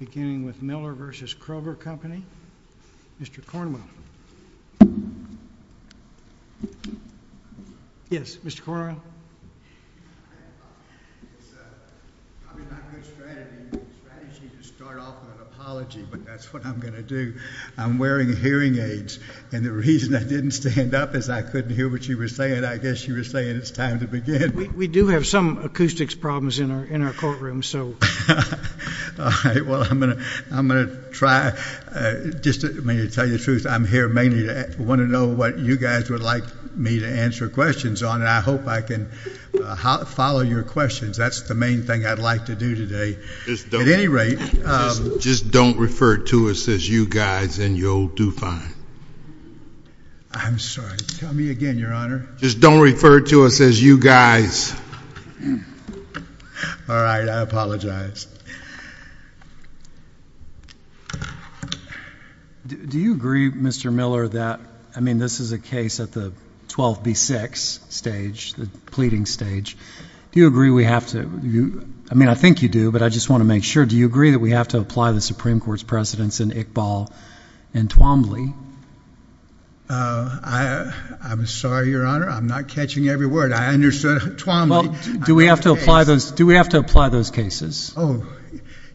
Beginning with Miller v. Kroger Company. Mr. Cornwell. Yes, Mr. Cornwell. It's probably not a good strategy to start off with an apology, but that's what I'm going to do. I'm wearing hearing aids, and the reason I didn't stand up is I couldn't hear what you were saying. I guess you were saying it's time to begin. We do have some acoustics problems in our courtroom. Well, I'm going to try. Just to tell you the truth, I'm here mainly to want to know what you guys would like me to answer questions on, and I hope I can follow your questions. That's the main thing I'd like to do today. At any rate. Just don't refer to us as you guys and your old DuVine. I'm sorry. Tell me again, Your Honor. Just don't refer to us as you guys. All right, I apologize. Do you agree, Mr. Miller, that, I mean, this is a case at the 12B6 stage, the pleading stage. Do you agree we have to, I mean, I think you do, but I just want to make sure. Do you agree that we have to apply the Supreme Court's precedence in Iqbal and Twombly? I'm sorry, Your Honor, I'm not catching every word. I understood Twombly. Do we have to apply those cases? Oh,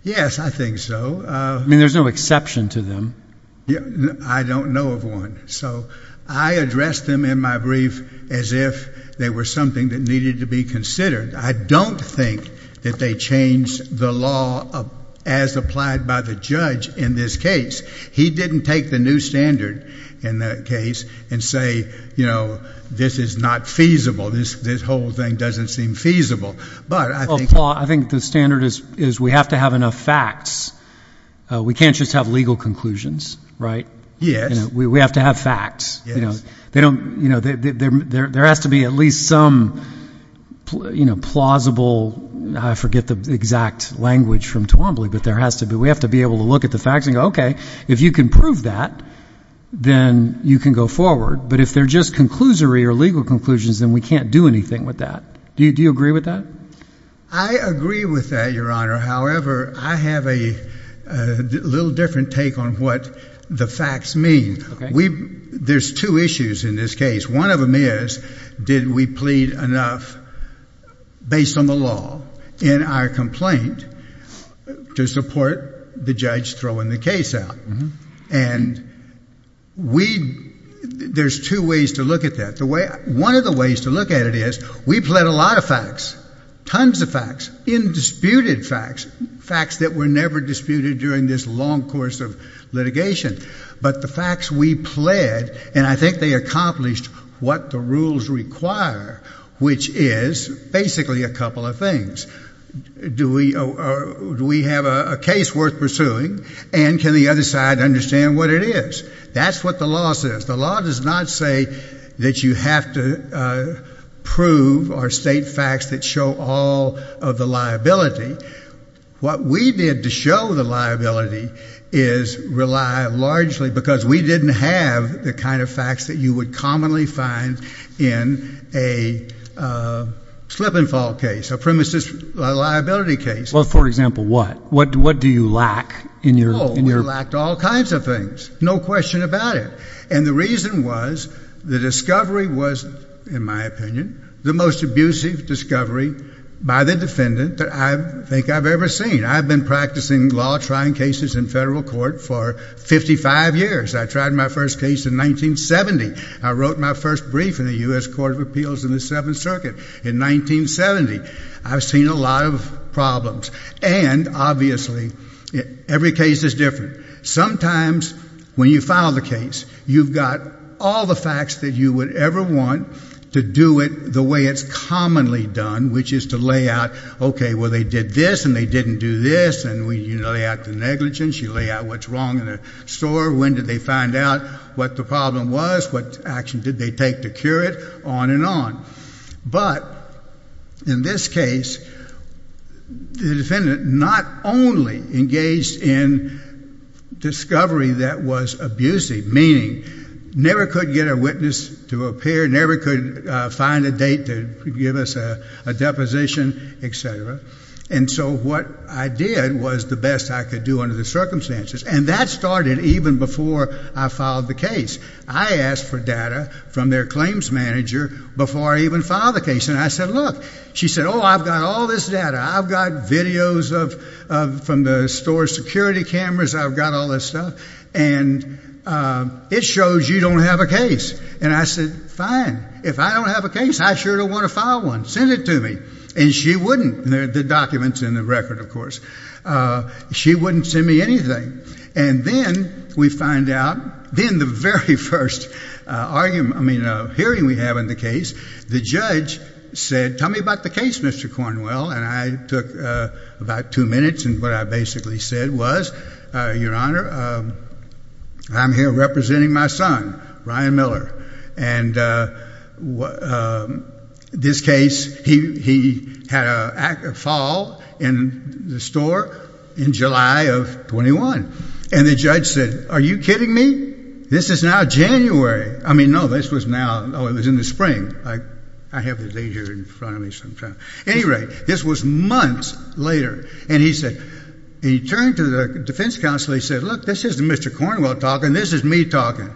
yes, I think so. I mean, there's no exception to them. I don't know of one. So I addressed them in my brief as if they were something that needed to be considered. I don't think that they changed the law as applied by the judge in this case. He didn't take the new standard in that case and say, you know, this is not feasible. This whole thing doesn't seem feasible. But I think the standard is we have to have enough facts. We can't just have legal conclusions, right? Yes. We have to have facts. Yes. You know, there has to be at least some, you know, plausible, I forget the exact language from Twombly, but there has to be. We have to be able to look at the facts and go, okay, if you can prove that, then you can go forward. But if they're just conclusory or legal conclusions, then we can't do anything with that. Do you agree with that? I agree with that, Your Honor. However, I have a little different take on what the facts mean. There's two issues in this case. One of them is did we plead enough based on the law in our complaint to support the judge throwing the case out? And there's two ways to look at that. One of the ways to look at it is we pled a lot of facts, tons of facts, indisputed facts, facts that were never disputed during this long course of litigation. But the facts we pled, and I think they accomplished what the rules require, which is basically a couple of things. Do we have a case worth pursuing? And can the other side understand what it is? That's what the law says. The law does not say that you have to prove or state facts that show all of the liability. What we did to show the liability is rely largely because we didn't have the kind of facts that you would commonly find in a slip and fall case, a premises liability case. Well, for example, what? What do you lack in your? Oh, we lacked all kinds of things. No question about it. And the reason was the discovery was, in my opinion, the most abusive discovery by the defendant that I think I've ever seen. I've been practicing law, trying cases in federal court for 55 years. I tried my first case in 1970. I wrote my first brief in the U.S. Court of Appeals in the Seventh Circuit in 1970. I've seen a lot of problems. And, obviously, every case is different. Sometimes when you file the case, you've got all the facts that you would ever want to do it the way it's commonly done, which is to lay out, okay, well, they did this and they didn't do this. And you lay out the negligence. You lay out what's wrong in the store. When did they find out what the problem was? What action did they take to cure it? On and on. But, in this case, the defendant not only engaged in discovery that was abusive, meaning never could get a witness to appear, never could find a date to give us a deposition, et cetera. And so what I did was the best I could do under the circumstances. And that started even before I filed the case. I asked for data from their claims manager before I even filed the case. And I said, look. She said, oh, I've got all this data. I've got videos from the store's security cameras. I've got all this stuff. And it shows you don't have a case. And I said, fine. If I don't have a case, I sure don't want to file one. Send it to me. And she wouldn't. The document's in the record, of course. She wouldn't send me anything. And then we find out, in the very first hearing we have in the case, the judge said, tell me about the case, Mr. Cornwell. And I took about two minutes. And what I basically said was, your Honor, I'm here representing my son, Ryan Miller. And this case, he had a fall in the store in July of 21. And the judge said, are you kidding me? This is now January. I mean, no, this was now, oh, it was in the spring. I have the date here in front of me. At any rate, this was months later. And he said, he turned to the defense counsel. He said, look, this isn't Mr. Cornwell talking. This is me talking.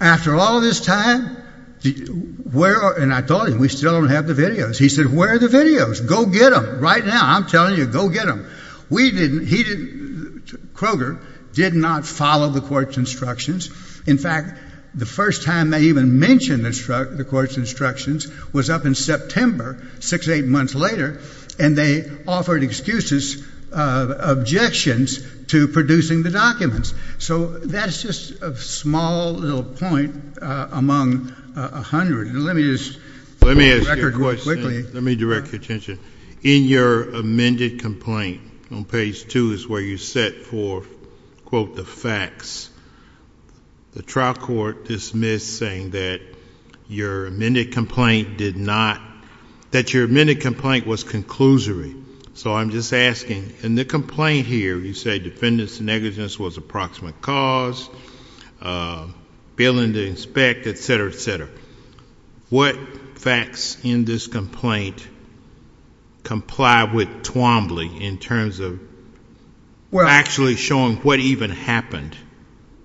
After all this time, where are, and I told him, we still don't have the videos. He said, where are the videos? Go get them right now. I'm telling you, go get them. We didn't, he didn't, Kroger did not follow the court's instructions. In fact, the first time they even mentioned the court's instructions was up in September, six, eight months later. And they offered excuses, objections to producing the documents. So that's just a small little point among a hundred. And let me just record real quickly. Let me direct your attention. In your amended complaint, on page two is where you set for, quote, the facts. The trial court dismissed saying that your amended complaint did not, that your amended complaint was conclusory. So I'm just asking, in the complaint here, you say defendants negligence was approximate cause, failing to inspect, et cetera, et cetera. What facts in this complaint comply with Twombly in terms of actually showing what even happened?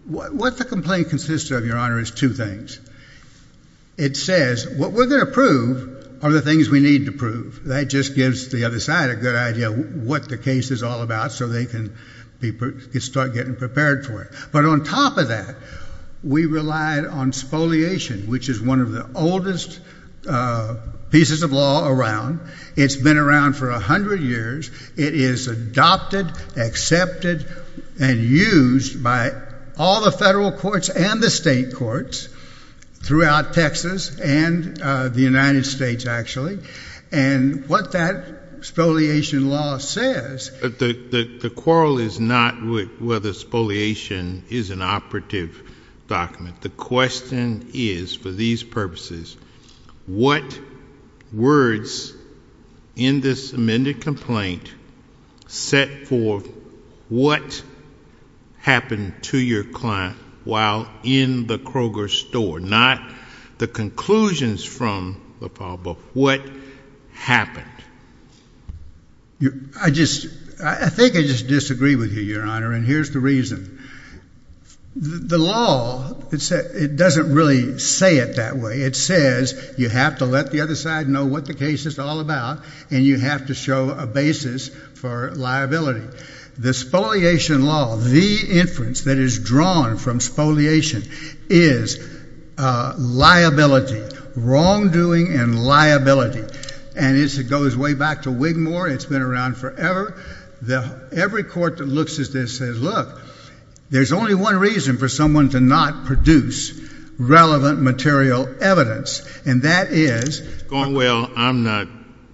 What the complaint consists of, Your Honor, is two things. It says what we're going to prove are the things we need to prove. That just gives the other side a good idea of what the case is all about so they can start getting prepared for it. But on top of that, we relied on spoliation, which is one of the oldest pieces of law around. It's been around for a hundred years. It is adopted, accepted, and used by all the federal courts and the state courts throughout Texas and the United States, actually. And what that spoliation law says. The quarrel is not whether spoliation is an operative document. The question is, for these purposes, what words in this amended complaint set forth what happened to your client while in the Kroger store? Not the conclusions from the problem, but what happened? I think I just disagree with you, Your Honor, and here's the reason. The law doesn't really say it that way. It says you have to let the other side know what the case is all about, and you have to show a basis for liability. The spoliation law, the inference that is drawn from spoliation, is liability, wrongdoing and liability. And as it goes way back to Wigmore, it's been around forever. Every court that looks at this says, look, there's only one reason for someone to not produce relevant material evidence, and that is... Going, well, I'm not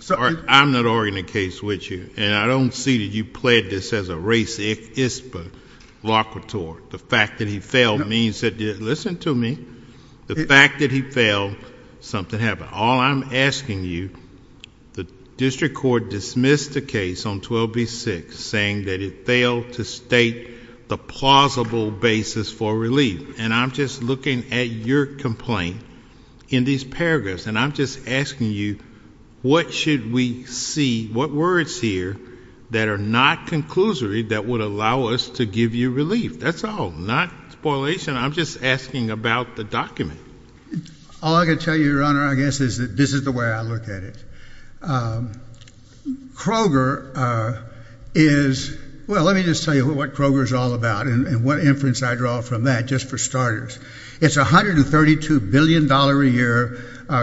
arguing the case with you, and I don't see that you pled this as a racist blockadeur. The fact that he failed means that... Listen to me. The fact that he failed, something happened. All I'm asking you, the district court dismissed the case on 12B-6, saying that it failed to state the plausible basis for relief. And I'm just looking at your complaint in these paragraphs, and I'm just asking you, what should we see? What words here that are not conclusory that would allow us to give you relief? That's all, not spoliation. I'm just asking about the document. All I can tell you, Your Honor, I guess, is that this is the way I look at it. Kroger is, well, let me just tell you what Kroger is all about and what inference I draw from that, just for starters. It's a $132 billion a year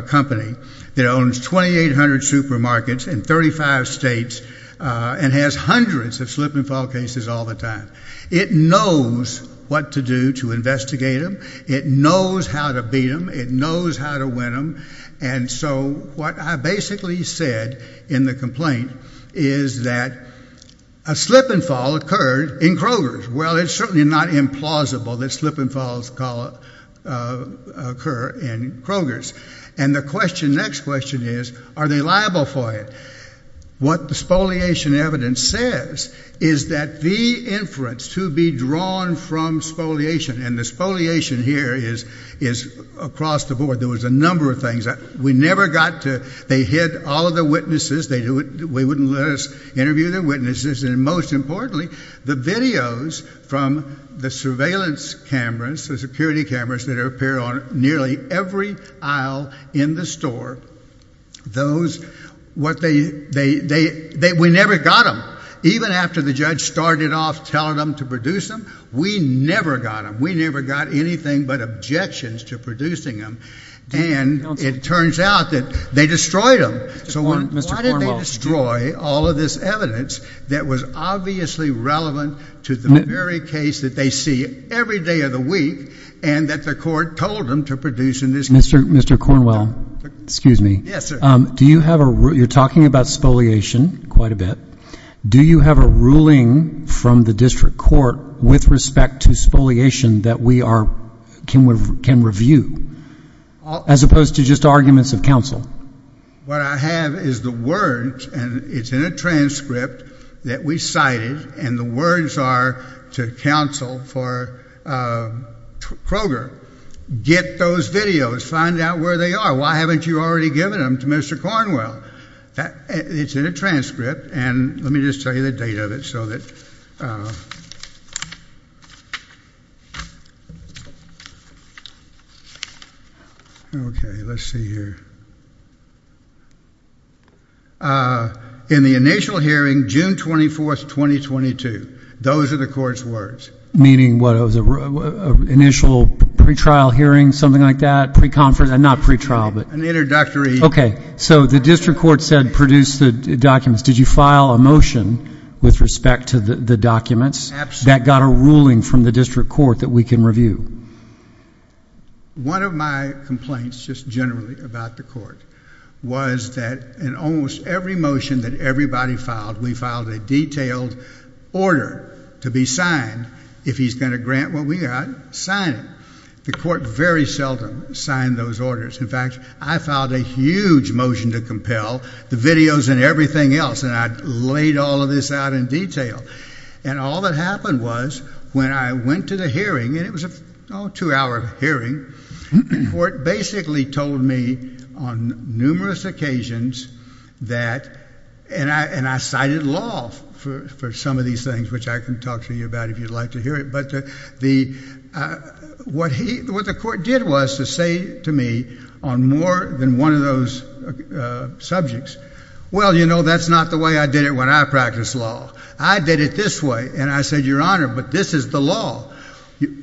company that owns 2,800 supermarkets in 35 states and has hundreds of slip and fall cases all the time. It knows what to do to investigate them. It knows how to beat them. It knows how to win them. And so what I basically said in the complaint is that a slip and fall occurred in Kroger's. Well, it's certainly not implausible that slip and falls occur in Kroger's. And the next question is, are they liable for it? What the spoliation evidence says is that the inference to be drawn from spoliation, and the spoliation here is across the board. There was a number of things. We never got to – they hid all of the witnesses. They wouldn't let us interview their witnesses. And most importantly, the videos from the surveillance cameras, the security cameras that appear on nearly every aisle in the store, those – what they – we never got them. Even after the judge started off telling them to produce them, we never got them. And it turns out that they destroyed them. So why did they destroy all of this evidence that was obviously relevant to the very case that they see every day of the week and that the court told them to produce in this case? Mr. Cornwell, excuse me. Yes, sir. Do you have a – you're talking about spoliation quite a bit. Do you have a ruling from the district court with respect to spoliation that we are – can review as opposed to just arguments of counsel? What I have is the words, and it's in a transcript that we cited, and the words are to counsel for Kroger. Get those videos. Find out where they are. Why haven't you already given them to Mr. Cornwell? It's in a transcript, and let me just tell you the date of it so that – okay, let's see here. In the initial hearing, June 24, 2022. Those are the court's words. Meaning what? It was an initial pre-trial hearing, something like that, pre-conference – not pre-trial, but – An introductory – Okay, so the district court said produce the documents. Did you file a motion with respect to the documents that got a ruling from the district court that we can review? One of my complaints just generally about the court was that in almost every motion that everybody filed, we filed a detailed order to be signed. If he's going to grant what we got, sign it. The court very seldom signed those orders. In fact, I filed a huge motion to compel the videos and everything else, and I laid all of this out in detail. And all that happened was when I went to the hearing, and it was a two-hour hearing, the court basically told me on numerous occasions that – and I cited law for some of these things, which I can talk to you about if you'd like to hear it. But what the court did was to say to me on more than one of those subjects, well, you know, that's not the way I did it when I practiced law. I did it this way, and I said, Your Honor, but this is the law.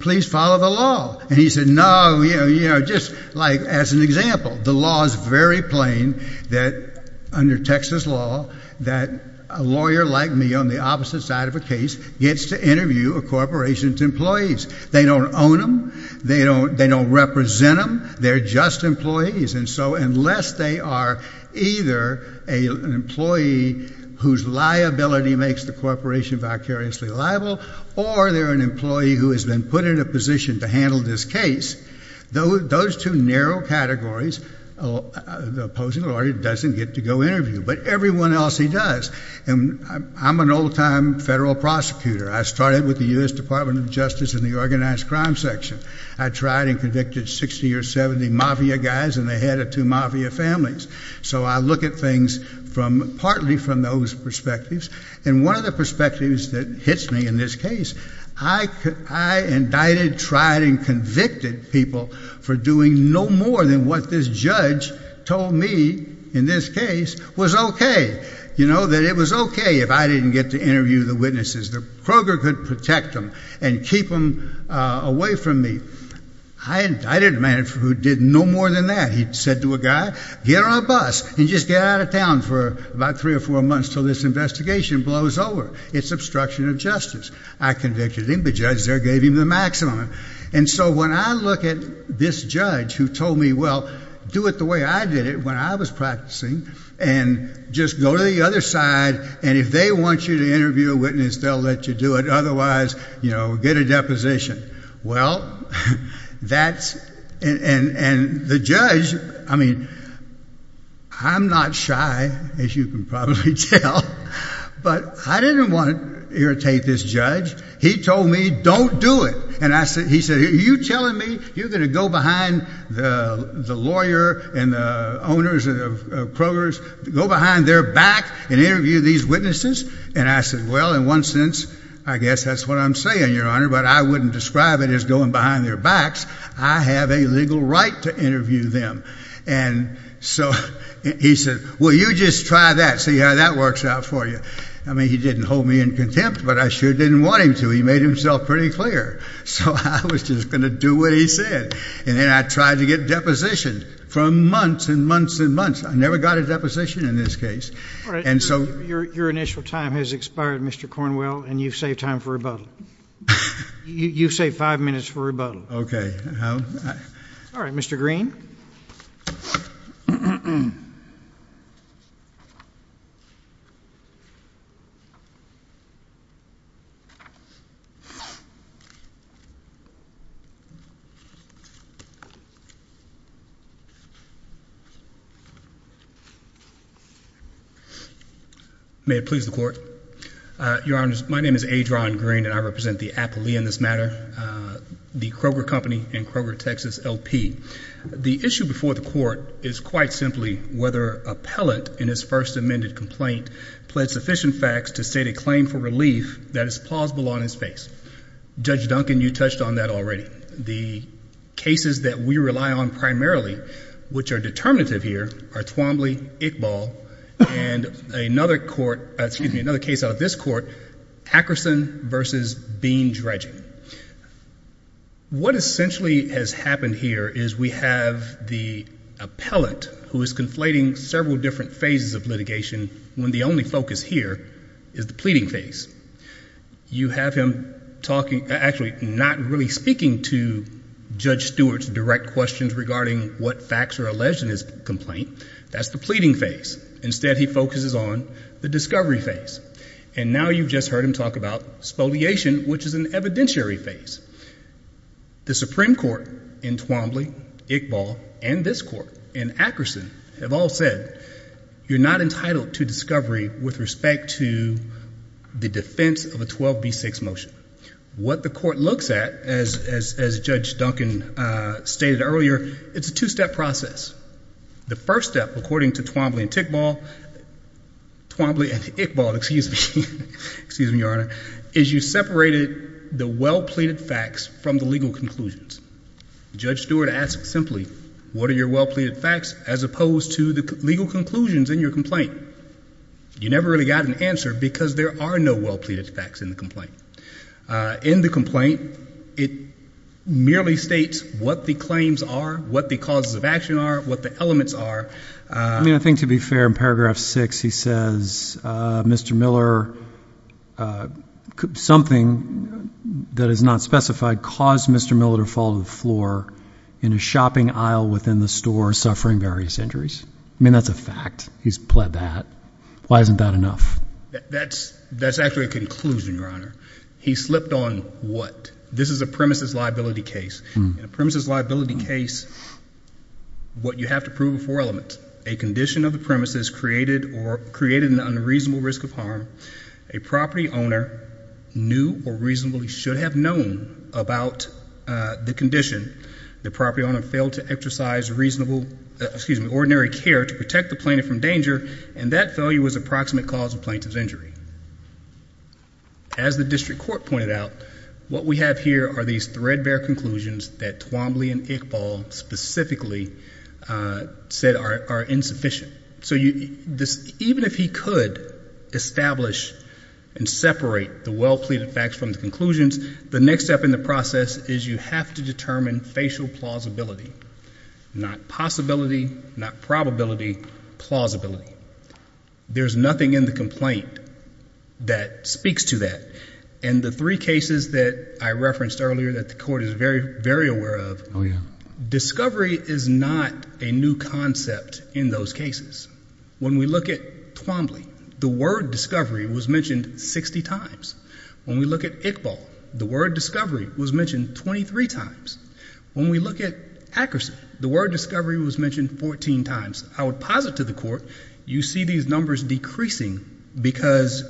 Please follow the law. And he said, no, you know, just like as an example. The law is very plain that under Texas law that a lawyer like me on the opposite side of a case gets to interview a corporation's employees. They don't own them. They don't represent them. They're just employees. And so unless they are either an employee whose liability makes the corporation vicariously liable or they're an employee who has been put in a position to handle this case, those two narrow categories, the opposing lawyer doesn't get to go interview. But everyone else, he does. And I'm an old-time federal prosecutor. I started with the U.S. Department of Justice in the organized crime section. I tried and convicted 60 or 70 mafia guys, and they had two mafia families. So I look at things partly from those perspectives. And one of the perspectives that hits me in this case, I indicted, tried, and convicted people for doing no more than what this judge told me in this case was okay. You know, that it was okay if I didn't get to interview the witnesses. Kroger could protect them and keep them away from me. I indicted a man who did no more than that. He said to a guy, get on a bus and just get out of town for about three or four months until this investigation blows over. It's obstruction of justice. I convicted him. The judge there gave him the maximum. And so when I look at this judge who told me, well, do it the way I did it when I was practicing and just go to the other side, and if they want you to interview a witness, they'll let you do it. Otherwise, you know, get a deposition. Well, that's – and the judge – I mean, I'm not shy, as you can probably tell, but I didn't want to irritate this judge. He told me, don't do it. And he said, are you telling me you're going to go behind the lawyer and the owners of Kroger's – go behind their back and interview these witnesses? And I said, well, in one sense, I guess that's what I'm saying, Your Honor, but I wouldn't describe it as going behind their backs. I have a legal right to interview them. And so he said, well, you just try that, see how that works out for you. I mean, he didn't hold me in contempt, but I sure didn't want him to. He made himself pretty clear. So I was just going to do what he said. And then I tried to get a deposition for months and months and months. I never got a deposition in this case. All right. Your initial time has expired, Mr. Cornwell, and you've saved time for rebuttal. You've saved five minutes for rebuttal. Okay. All right. Mr. Green. May it please the Court. Your Honors, my name is Adrian Green, and I represent the appellee in this matter. The Kroger Company and Kroger, Texas LP. The issue before the Court is quite simply whether appellate in his first amended complaint pled sufficient facts to state a claim for relief that is plausible on his face. Judge Duncan, you touched on that already. The cases that we rely on primarily, which are determinative here, are Twombly, Iqbal, and another case out of this court, Akerson v. Bean-Dredgen. What essentially has happened here is we have the appellate, who is conflating several different phases of litigation, when the only focus here is the pleading phase. You have him actually not really speaking to Judge Stewart's direct questions regarding what facts are alleged in his complaint. That's the pleading phase. Instead, he focuses on the discovery phase. And now you've just heard him talk about spoliation, which is an evidentiary phase. The Supreme Court in Twombly, Iqbal, and this court, and Akerson, have all said, you're not entitled to discovery with respect to the defense of a 12B6 motion. What the Court looks at, as Judge Duncan stated earlier, it's a two-step process. The first step, according to Twombly and Iqbal, is you separated the well-pleaded facts from the legal conclusions. Judge Stewart asks simply, what are your well-pleaded facts, as opposed to the legal conclusions in your complaint? You never really got an answer because there are no well-pleaded facts in the complaint. In the complaint, it merely states what the claims are, what the causes of action are, what the elements are. I mean, I think to be fair, in paragraph 6 he says, Mr. Miller, something that is not specified caused Mr. Miller to fall to the floor in a shopping aisle within the store suffering various injuries. I mean, that's a fact. He's pled that. Why isn't that enough? That's actually a conclusion, Your Honor. He slipped on what? This is a premises liability case. In a premises liability case, what you have to prove are four elements. A condition of the premises created an unreasonable risk of harm. A property owner knew or reasonably should have known about the condition. The property owner failed to exercise ordinary care to protect the plaintiff from danger, and that failure was approximate cause of plaintiff's injury. As the district court pointed out, what we have here are these threadbare conclusions that Twombly and Iqbal specifically said are insufficient. So even if he could establish and separate the well-pleaded facts from the conclusions, the next step in the process is you have to determine facial plausibility, not possibility, not probability, plausibility. There's nothing in the complaint that speaks to that. In the three cases that I referenced earlier that the court is very, very aware of, discovery is not a new concept in those cases. When we look at Twombly, the word discovery was mentioned 60 times. When we look at Iqbal, the word discovery was mentioned 23 times. When we look at Akerson, the word discovery was mentioned 14 times. I would posit to the court you see these numbers decreasing because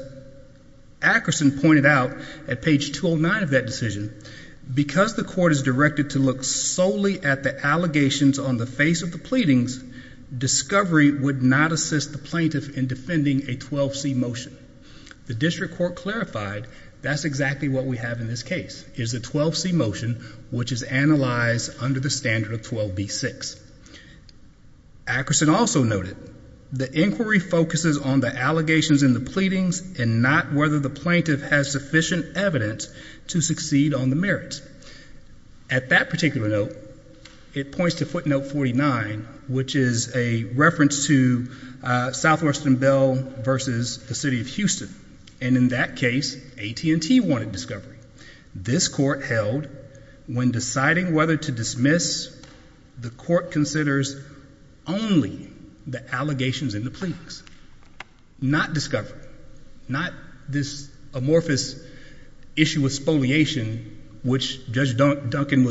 Akerson pointed out at page 209 of that decision, because the court is directed to look solely at the allegations on the face of the pleadings, discovery would not assist the plaintiff in defending a 12C motion. The district court clarified that's exactly what we have in this case, is a 12C motion which is analyzed under the standard of 12B-6. Akerson also noted the inquiry focuses on the allegations in the pleadings and not whether the plaintiff has sufficient evidence to succeed on the merits. At that particular note, it points to footnote 49, which is a reference to Southwestern Bell versus the city of Houston, and in that case AT&T wanted discovery. This court held when deciding whether to dismiss, the court considers only the allegations in the pleadings, not discovery, not this amorphous issue with spoliation which Judge Duncan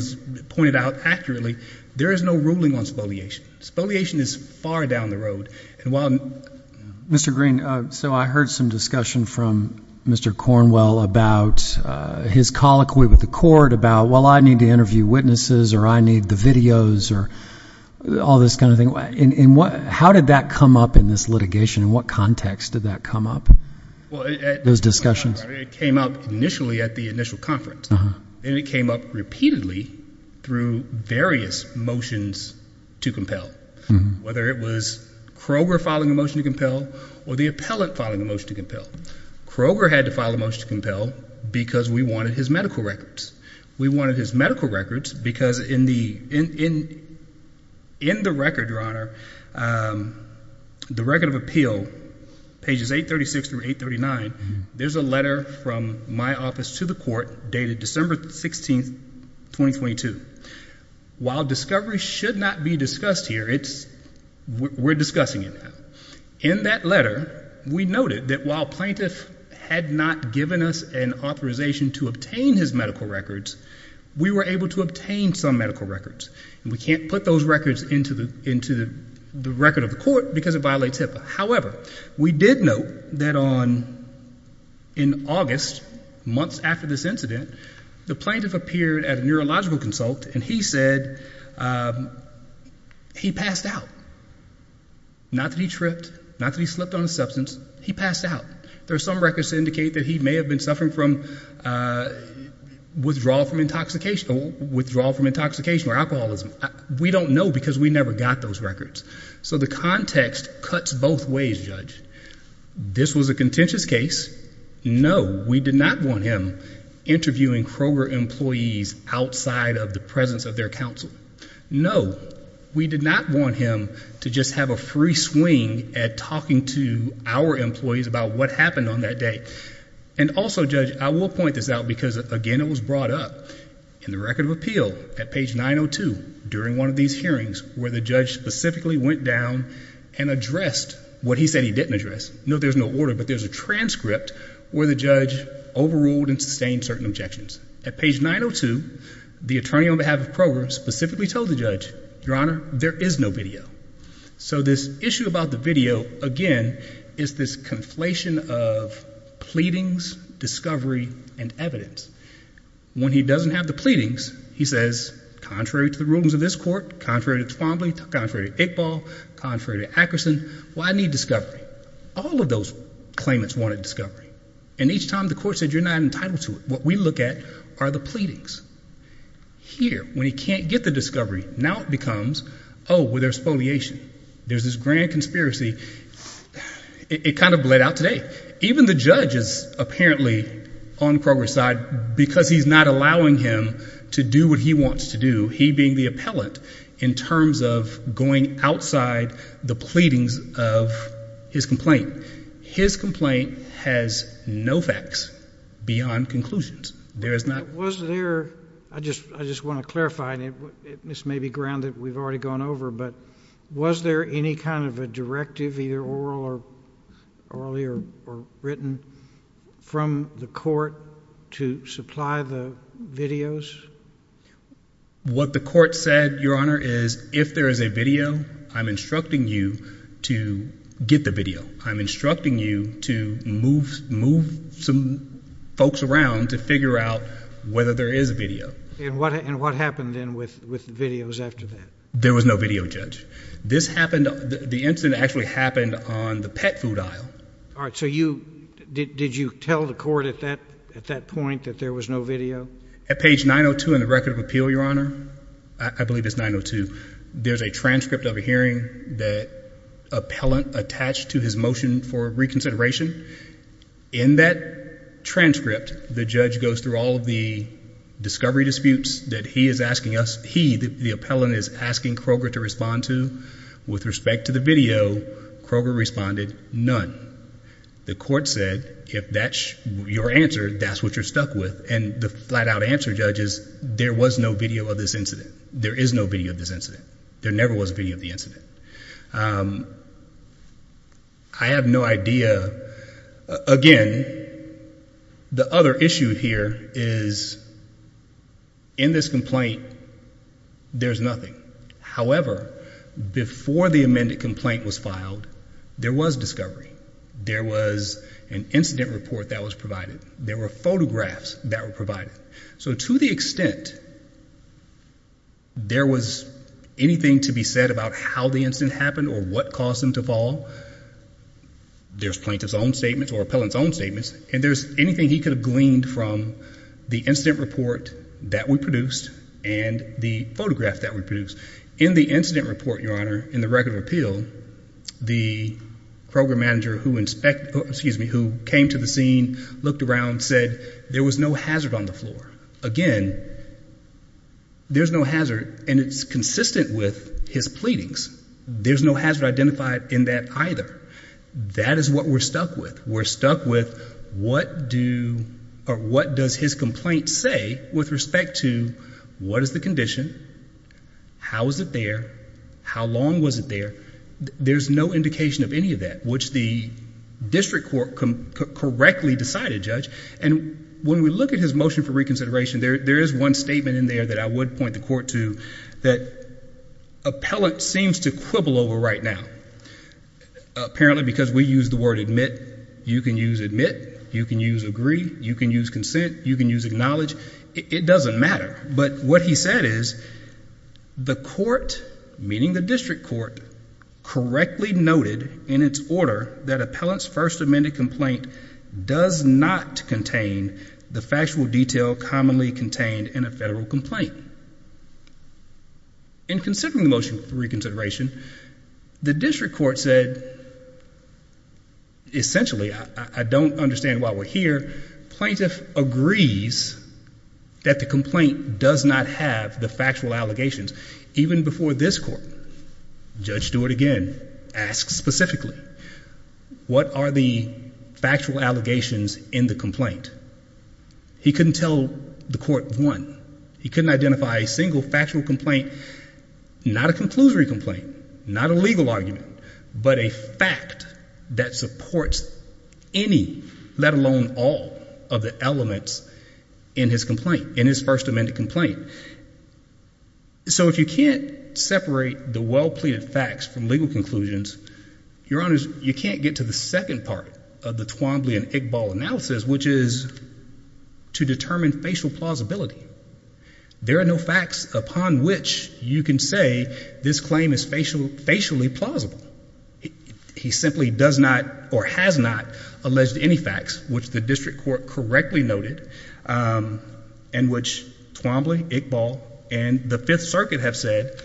pointed out accurately. There is no ruling on spoliation. Spoliation is far down the road. Mr. Green, so I heard some discussion from Mr. Cornwell about his colloquy with the court about, well, I need to interview witnesses or I need the videos or all this kind of thing. How did that come up in this litigation? In what context did that come up, those discussions? It came up initially at the initial conference, and it came up repeatedly through various motions to compel, whether it was Kroger filing a motion to compel or the appellant filing a motion to compel. Kroger had to file a motion to compel because we wanted his medical records. We wanted his medical records because in the record, Your Honor, the record of appeal, pages 836 through 839, there's a letter from my office to the court dated December 16th, 2022. While discovery should not be discussed here, we're discussing it now. In that letter, we noted that while plaintiff had not given us an authorization to obtain his medical records, we were able to obtain some medical records, and we can't put those records into the record of the court because it violates HIPAA. However, we did note that in August, months after this incident, the plaintiff appeared at a neurological consult, and he said he passed out. Not that he tripped, not that he slipped on a substance, he passed out. There are some records that indicate that he may have been suffering from withdrawal from intoxication or alcoholism. We don't know because we never got those records. So the context cuts both ways, Judge. This was a contentious case. No, we did not want him interviewing Kroger employees outside of the presence of their counsel. No, we did not want him to just have a free swing at talking to our employees about what happened on that day. And also, Judge, I will point this out because, again, it was brought up in the record of appeal at page 902 during one of these hearings where the judge specifically went down and addressed what he said he didn't address. No, there's no order, but there's a transcript where the judge overruled and sustained certain objections. At page 902, the attorney on behalf of Kroger specifically told the judge, Your Honor, there is no video. So this issue about the video, again, is this conflation of pleadings, discovery, and evidence. When he doesn't have the pleadings, he says, Contrary to the rulings of this court, contrary to Twombly, contrary to Iqbal, contrary to Ackerson, well, I need discovery. All of those claimants wanted discovery. And each time the court said you're not entitled to it, what we look at are the pleadings. Here, when he can't get the discovery, now it becomes, oh, well, there's foliation. There's this grand conspiracy. It kind of bled out today. Even the judge is apparently on Kroger's side because he's not allowing him to do what he wants to do, he being the appellant, in terms of going outside the pleadings of his complaint. His complaint has no facts beyond conclusions. There is not. Was there, I just want to clarify, and this may be ground that we've already gone over, but was there any kind of a directive, either oral or written, from the court to supply the videos? What the court said, Your Honor, is if there is a video, I'm instructing you to get the video. I'm instructing you to move some folks around to figure out whether there is a video. And what happened then with the videos after that? There was no video, Judge. This happened, the incident actually happened on the pet food aisle. All right, so you, did you tell the court at that point that there was no video? At page 902 in the record of appeal, Your Honor, I believe it's 902, there's a transcript of a hearing that appellant attached to his motion for reconsideration. In that transcript, the judge goes through all of the discovery disputes that he is asking us, he, the appellant, is asking Kroger to respond to. With respect to the video, Kroger responded none. The court said if that's your answer, that's what you're stuck with, and the flat-out answer, Judge, is there was no video of this incident. There is no video of this incident. There never was a video of the incident. I have no idea. Again, the other issue here is in this complaint, there's nothing. However, before the amended complaint was filed, there was discovery. There was an incident report that was provided. There were photographs that were provided. So to the extent there was anything to be said about how the incident happened or what caused them to fall, there's plaintiff's own statements or appellant's own statements, and there's anything he could have gleaned from the incident report that we produced and the photograph that we produced. In the incident report, Your Honor, in the record of appeal, the program manager who came to the scene looked around and said there was no hazard on the floor. Again, there's no hazard, and it's consistent with his pleadings. There's no hazard identified in that either. That is what we're stuck with. We're stuck with what does his complaint say with respect to what is the condition, how is it there, how long was it there. There's no indication of any of that, which the district court correctly decided, Judge. And when we look at his motion for reconsideration, there is one statement in there that I would point the court to that appellant seems to quibble over right now. Apparently because we use the word admit, you can use admit, you can use agree, you can use consent, you can use acknowledge. It doesn't matter. But what he said is the court, meaning the district court, correctly noted in its order that appellant's first amended complaint does not contain the factual detail commonly contained in a federal complaint. In considering the motion for reconsideration, the district court said, essentially, I don't understand why we're here, plaintiff agrees that the complaint does not have the factual allegations. Even before this court, Judge Stewart again asks specifically, what are the factual allegations in the complaint? He couldn't tell the court one. He couldn't identify a single factual complaint, not a conclusory complaint, not a legal argument, but a fact that supports any, let alone all of the elements in his complaint, in his first amended complaint. So if you can't separate the well-pleaded facts from legal conclusions, your honors, you can't get to the second part of the Twombly and Iqbal analysis, which is to determine facial plausibility. There are no facts upon which you can say this claim is facially plausible. He simply does not or has not alleged any facts, which the district court correctly noted, and which Twombly, Iqbal, and the Fifth Circuit have said,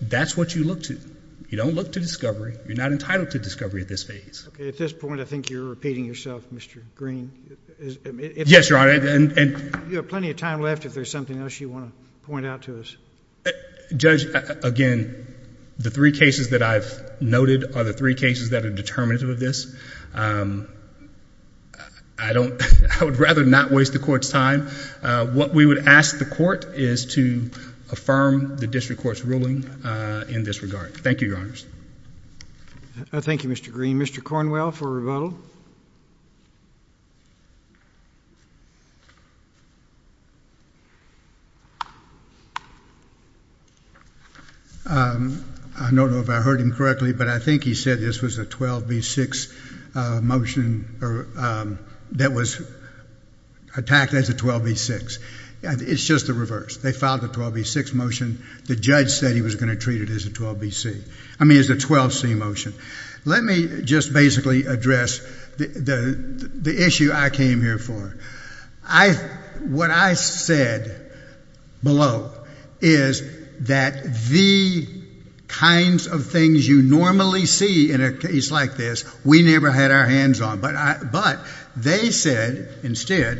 that's what you look to. You don't look to discovery. You're not entitled to discovery at this phase. At this point, I think you're repeating yourself, Mr. Green. Yes, your honor. You have plenty of time left if there's something else you want to point out to us. Judge, again, the three cases that I've noted are the three cases that are determinative of this. I would rather not waste the court's time. What we would ask the court is to affirm the district court's ruling in this regard. Thank you, your honors. Thank you, Mr. Green. Mr. Cornwell for rebuttal. I don't know if I heard him correctly, but I think he said this was a 12B6 motion that was attacked as a 12B6. It's just the reverse. They filed the 12B6 motion. The judge said he was going to treat it as a 12C motion. Let me just basically address the issue I came here for. What I said below is that the kinds of things you normally see in a case like this, we never had our hands on. But they said instead,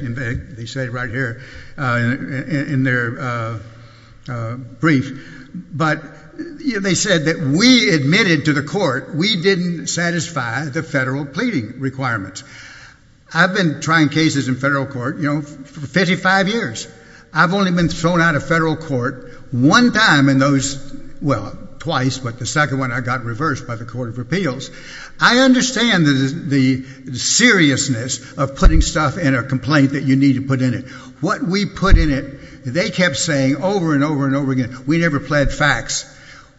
they said it right here in their brief, but they said that we admitted to the court we didn't satisfy the federal pleading requirements. I've been trying cases in federal court for 55 years. I've only been thrown out of federal court one time in those, well, twice, but the second one I got reversed by the court of appeals. I understand the seriousness of putting stuff in a complaint that you need to put in it. What we put in it, they kept saying over and over and over again, we never pled facts.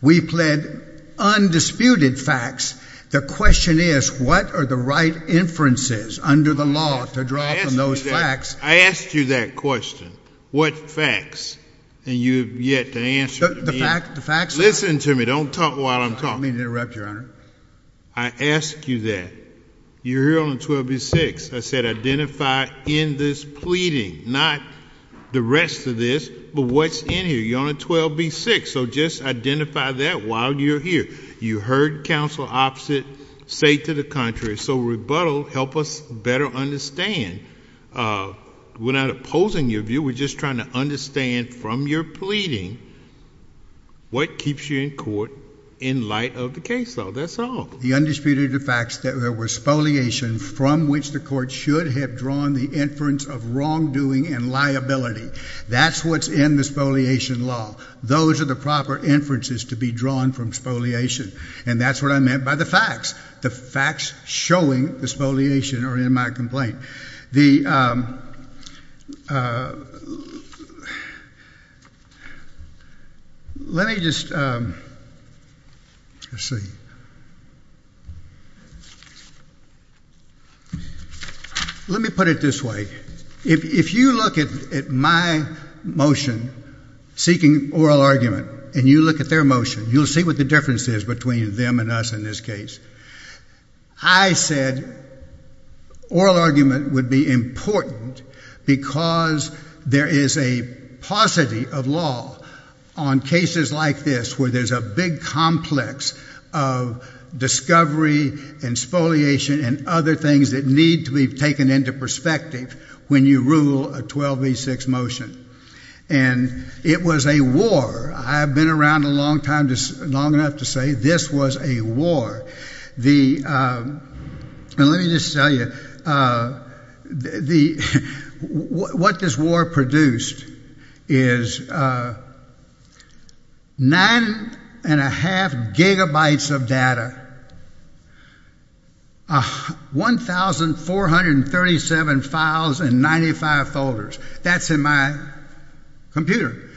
We pled undisputed facts. The question is what are the right inferences under the law to draw from those facts. I asked you that question. What facts? And you have yet to answer me. Listen to me. Don't talk while I'm talking. I don't mean to interrupt, Your Honor. I asked you that. You're here on 12B-6. I said identify in this pleading, not the rest of this, but what's in here. You're on 12B-6, so just identify that while you're here. You heard counsel opposite say to the contrary, so rebuttal, help us better understand. We're not opposing your view. We're just trying to understand from your pleading what keeps you in court in light of the case law. That's all. The undisputed facts that there was spoliation from which the court should have drawn the inference of wrongdoing and liability. That's what's in the spoliation law. Those are the proper inferences to be drawn from spoliation, and that's what I meant by the facts. The facts showing the spoliation are in my complaint. Let me just see. Let me put it this way. If you look at my motion seeking oral argument and you look at their motion, you'll see what the difference is between them and us in this case. I said oral argument would be important because there is a paucity of law on cases like this where there's a big complex of discovery and spoliation and other things that need to be taken into perspective when you rule a 12B-6 motion, and it was a war. I've been around long enough to say this was a war. Let me just tell you, what this war produced is nine and a half gigabytes of data, 1,437 files and 95 folders. That's in my computer.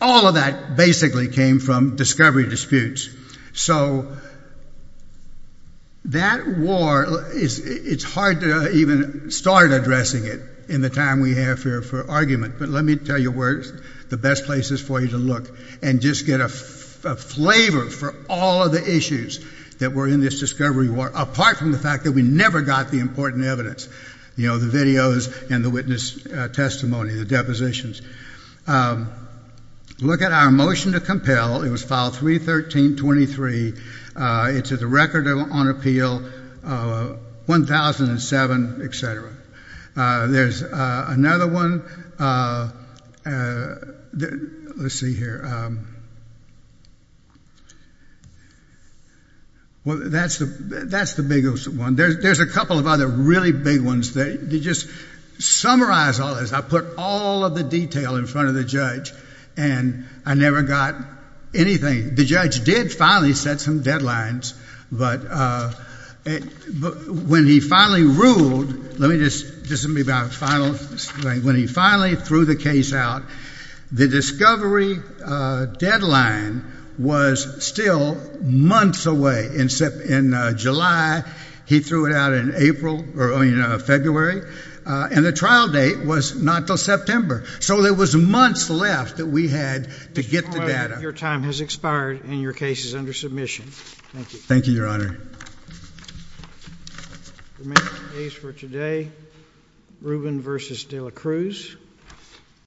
All of that basically came from discovery disputes. So that war, it's hard to even start addressing it in the time we have here for argument, but let me tell you where the best place is for you to look and just get a flavor for all of the issues that were in this discovery war, apart from the fact that we never got the important evidence, the videos and the witness testimony, the depositions. Look at our motion to compel. It was file 313-23. It's at the record on appeal 1007, et cetera. There's another one. Let's see here. Well, that's the biggest one. There's a couple of other really big ones. To just summarize all this, I put all of the detail in front of the judge, and I never got anything. The judge did finally set some deadlines, but when he finally ruled, let me just, this will be my final thing. When he finally threw the case out, the discovery deadline was still months away. In July, he threw it out in February, and the trial date was not until September. So there was months left that we had to get the data. Your time has expired, and your case is under submission. Thank you. Thank you, Your Honor. We'll make the case for today, Rubin v. De La Cruz.